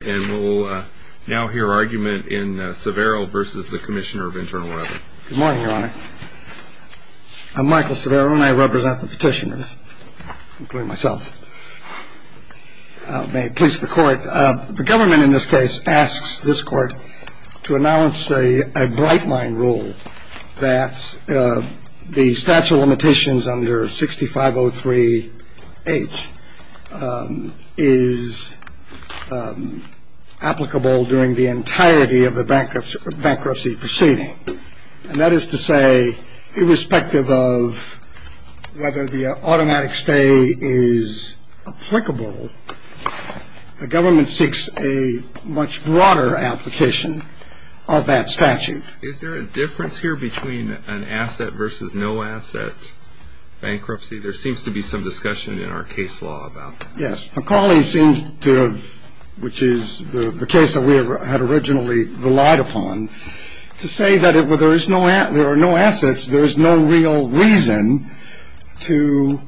Good morning, Your Honor. I'm Michael Severo, and I represent the petitioners, including myself. May it please the Court, the government in this case asks this Court to announce a bright applicable during the entirety of the bankruptcy proceeding. And that is to say, irrespective of whether the automatic stay is applicable, the government seeks a much broader application of that statute. Is there a difference here between an asset versus no asset bankruptcy? There seems to be some discussion in our case law about that. Yes. McCauley seemed to have, which is the case that we had originally relied upon, to say that there are no assets, there is no real reason to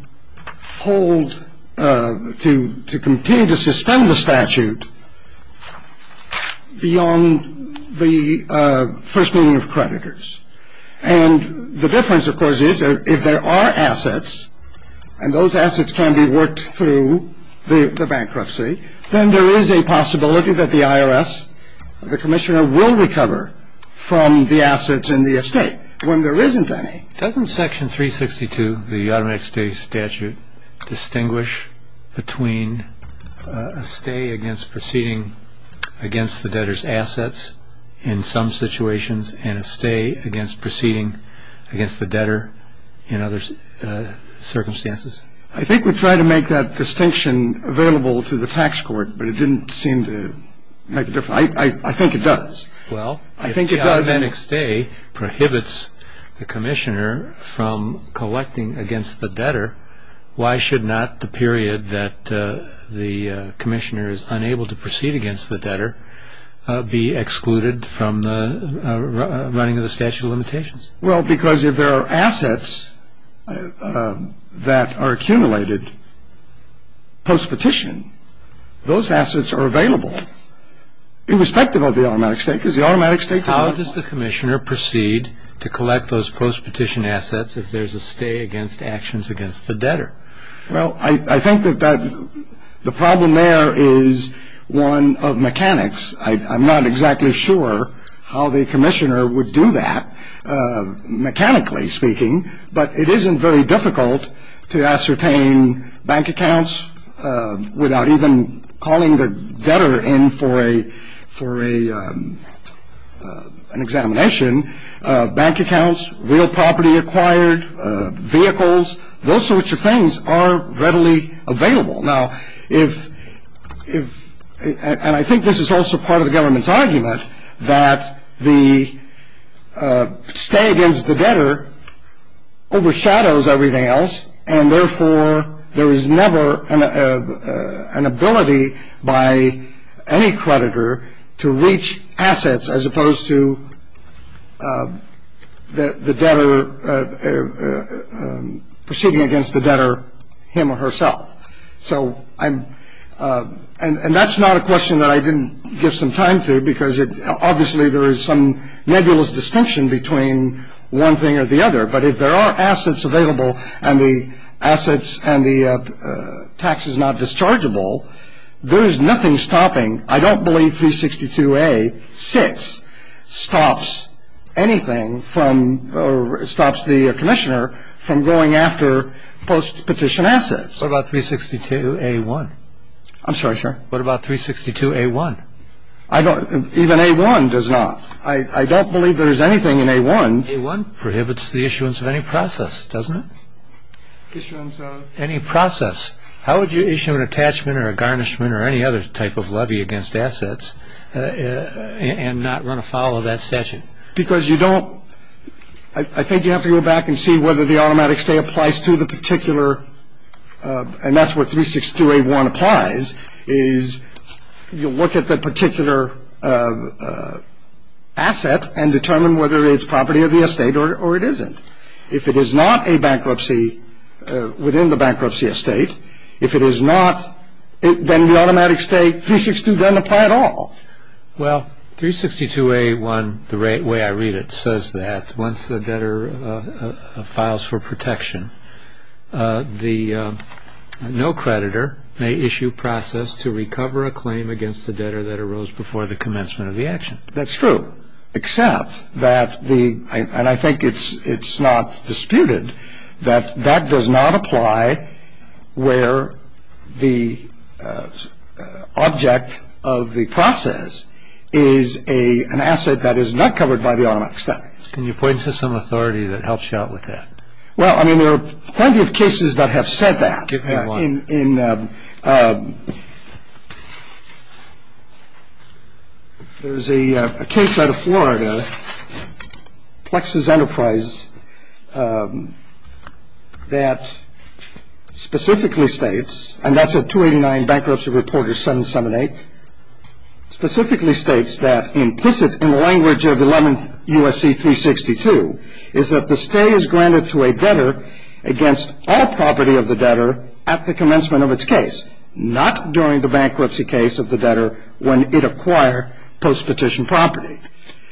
hold, to continue to suspend the statute beyond the first meeting of creditors. And the difference, of course, is if there are assets, and those assets can be worked through the bankruptcy, then there is a possibility that the IRS, the Commissioner, will recover from the assets in the estate when there isn't any. Doesn't section 362 of the automatic stay statute distinguish between a stay against proceeding against the debtor's assets in some situations and a stay against proceeding against the debtor in other circumstances? I think we tried to make that distinction available to the tax court, but it didn't seem to make a difference. I think it does. Well, if the automatic stay prohibits the Commissioner from collecting against the debtor, why should not the period that the Commissioner is unable to proceed against the debtor be excluded from the running of the statute of limitations? Well, because if there are assets that are accumulated post-petition, those assets are available, irrespective of the automatic stay, because the automatic stay is available. How does the Commissioner proceed to collect those post-petition assets if there is a stay against actions against the debtor? Well, I think that the problem there is one of mechanics. I'm not exactly sure how the Commissioner would do that, mechanically speaking, but it isn't very difficult to ascertain bank accounts without even calling the debtor in for an examination. Bank accounts, real property acquired, vehicles, those sorts of things are readily available. Now, if, and I think this is also part of the government's argument, that the stay against the debtor overshadows everything else, and therefore there is never an ability by any proceeding against the debtor, him or herself. So I'm, and that's not a question that I didn't give some time to, because it, obviously there is some nebulous distinction between one thing or the other, but if there are assets available and the assets and the tax is not dischargeable, there is nothing stopping, I don't believe 362A.6 stops anything from, stops the Commissioner from going after post-petition assets. What about 362A.1? I'm sorry, sir? What about 362A.1? I don't, even A.1 does not. I don't believe there is anything in A.1. A.1 prohibits the issuance of any process, doesn't it? Any process. How would you issue an attachment or a garnishment or any other type of levy against assets and not run afoul of that session? Because you don't, I think you have to go back and see whether the automatic stay applies to the particular, and that's what 362A.1 applies, is you look at that particular asset and determine whether it's property of the estate or it isn't. If it is not a bankruptcy within the bankruptcy estate, if it is not, then the automatic stay, 362 doesn't apply at all. Well, 362A.1, the way I read it, says that once a debtor files for protection, the no-creditor may issue process to recover a claim against the debtor that arose before the commencement of the action. That's true, except that the, and I think it's not disputed, that that does not apply where the object of the process is an asset that is not covered by the automatic stay. Can you point to some authority that helps you out with that? Well, I mean, there are plenty of cases that have said that in, there's a case out of Florida, Plexus Enterprises, that specifically states, and that's a 289 Bankruptcy Reporter 778, specifically states that implicit in the language of 11 U.S.C. 362 is that the stay is granted to a debtor against all property of the debtor at the commencement of its case, not during the bankruptcy case of the debtor when it acquired post-petition property.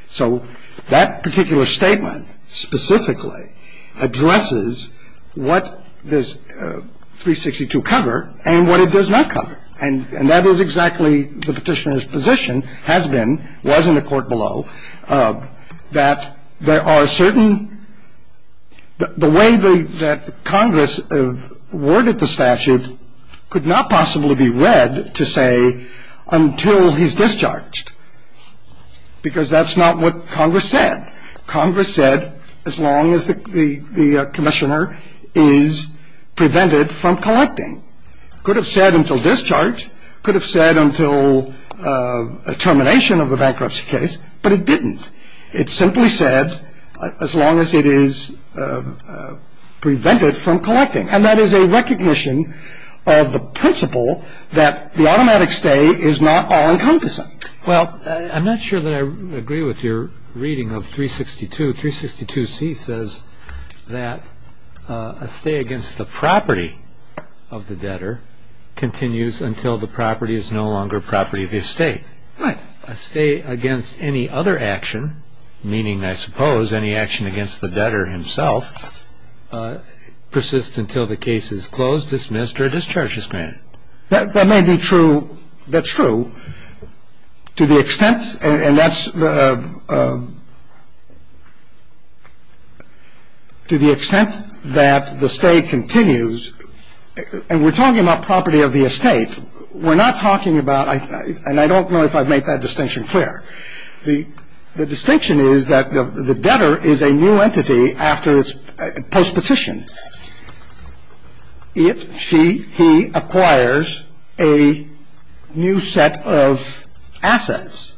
So that particular statement specifically addresses what does 362 cover and what it does not cover. And that is exactly the petitioner's position has been, was in the court below, that there are certain, the way that Congress worded the statute could not possibly be read to say until he's discharged, because that's not what Congress said. Congress said as long as the commissioner is prevented from collecting. Could have said until discharge, could have said until termination of a bankruptcy case, but it didn't. It simply said as long as it is prevented from collecting. And that is a recognition of the principle that the automatic stay is not all-encompassing. Well, I'm not sure that I agree with your reading of 362. 362c says that a stay against the property of the debtor continues until the property is no longer property of the estate. Right. A stay against any other action, meaning I suppose any action against the debtor himself, persists until the case is closed, dismissed, or discharged as planned. That may be true. That's true. To the extent, and that's the to the extent that the stay continues, and we're talking about property of the estate, we're not talking about, and I don't know if I've made that distinction clear. The distinction is that the debtor is a new entity after its post-petition. It, she, he acquires a new set of assets.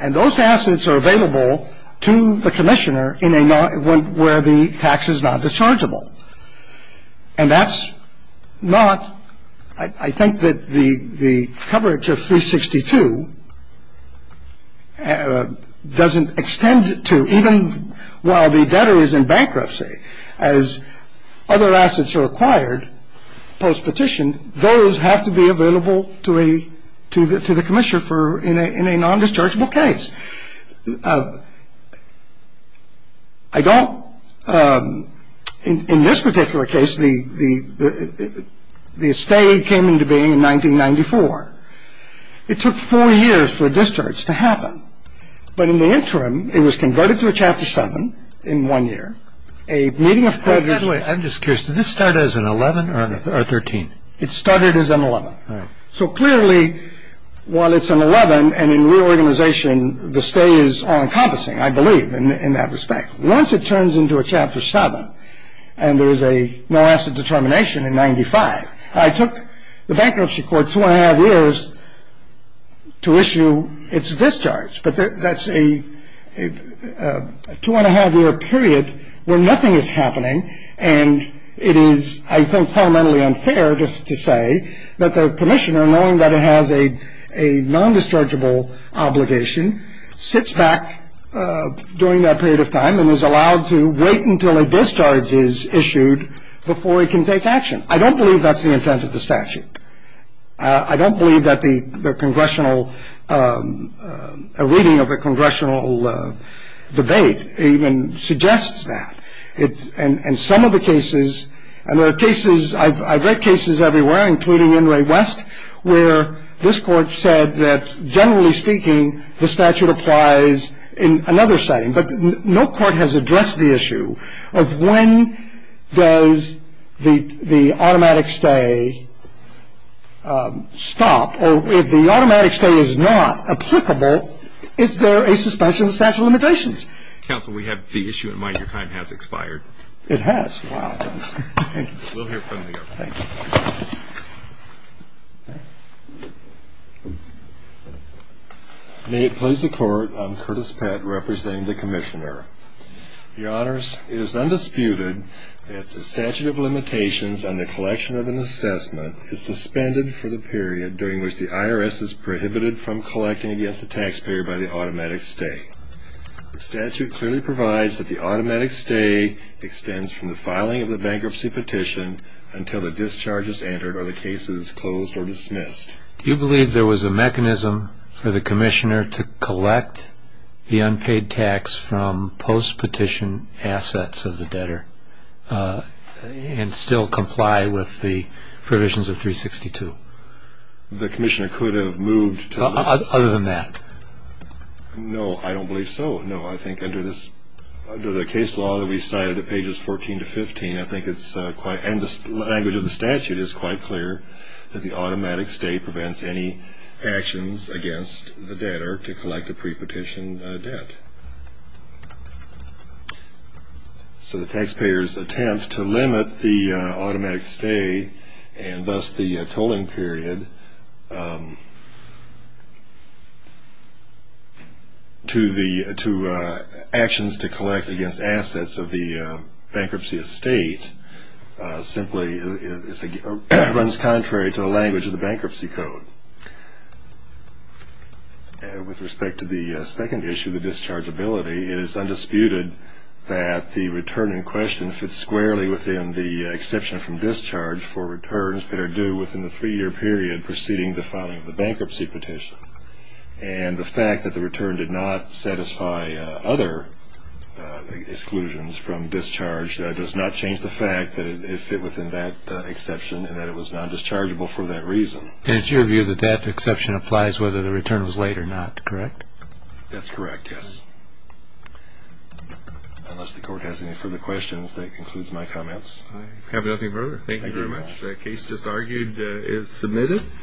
And those assets are available to the commissioner where the tax is not dischargeable. And that's not, I think that the coverage of 362 doesn't extend to, even while the debtor is in bankruptcy, as other assets are acquired post-petition, those have to be available to the commissioner in a non-dischargeable case. I don't, in this particular case, the estate came into being in 1994. It took four years for a discharge to happen. But in the interim, it was converted to a Chapter 7 in one year. A meeting of creditors- I'm just curious, did this start as an 11 or a 13? It started as an 11. So clearly, while it's an 11, and in reorganization, the stay is all-encompassing, I believe, in that respect. Once it turns into a Chapter 7, and there is a no asset determination in 95, I took the bankruptcy court two and a half years to issue its discharge. But that's a two and a half year period where nothing is happening. And it is, I think, fundamentally unfair to say that the commissioner, knowing that it has a non-dischargeable obligation, sits back during that period of time and is allowed to wait until a discharge is issued before it can take action. I don't believe that's the intent of the statute. I don't believe that a reading of a congressional debate even suggests that. And some of the cases, and there are cases, I've read cases everywhere, including in Ray West, where this court said that, generally speaking, the statute applies in another setting. But no court has addressed the issue of when does the automatic stay stop? Or if the automatic stay is not applicable, is there a suspension of the statute of limitations? Counsel, we have the issue in mind. Your time has expired. It has? Wow. Thank you. We'll hear from you. Thank you. May it please the court, I'm Curtis Pett representing the commissioner. Your honors, it is undisputed that the statute of limitations on the collection of an assessment is suspended for the period during which the IRS is prohibited from collecting against the taxpayer by the automatic stay. The statute clearly provides that the automatic stay extends from the filing of the bankruptcy petition until the discharge is entered or the case is closed or dismissed. Do you believe there was a mechanism for the commissioner to collect the unpaid tax from post-petition assets of the debtor and still comply with the provisions of 362? The commissioner could have moved to the- Other than that? No, I don't believe so. No, I think under the case law that we cited at pages 14 to 15, and the language of the statute is quite clear, that the automatic stay prevents any actions against the debtor to collect a pre-petition debt. So the taxpayers attempt to limit the automatic stay and thus the tolling period to actions to collect against assets of the bankruptcy estate simply runs contrary to the language of the bankruptcy code. With respect to the second issue, the dischargeability, it is undisputed that the return in question fits squarely within the exception from discharge for returns that are due within the three-year period preceding the filing of the bankruptcy petition. And the fact that the return did not satisfy other exclusions from discharge does not change the fact that it fit within that exception and that it was non-dischargeable for that reason. And it's your view that that exception applies whether the return was late or not, correct? That's correct, yes. Unless the court has any further questions, that concludes my comments. I have nothing further. Thank you very much. The case just argued is submitted.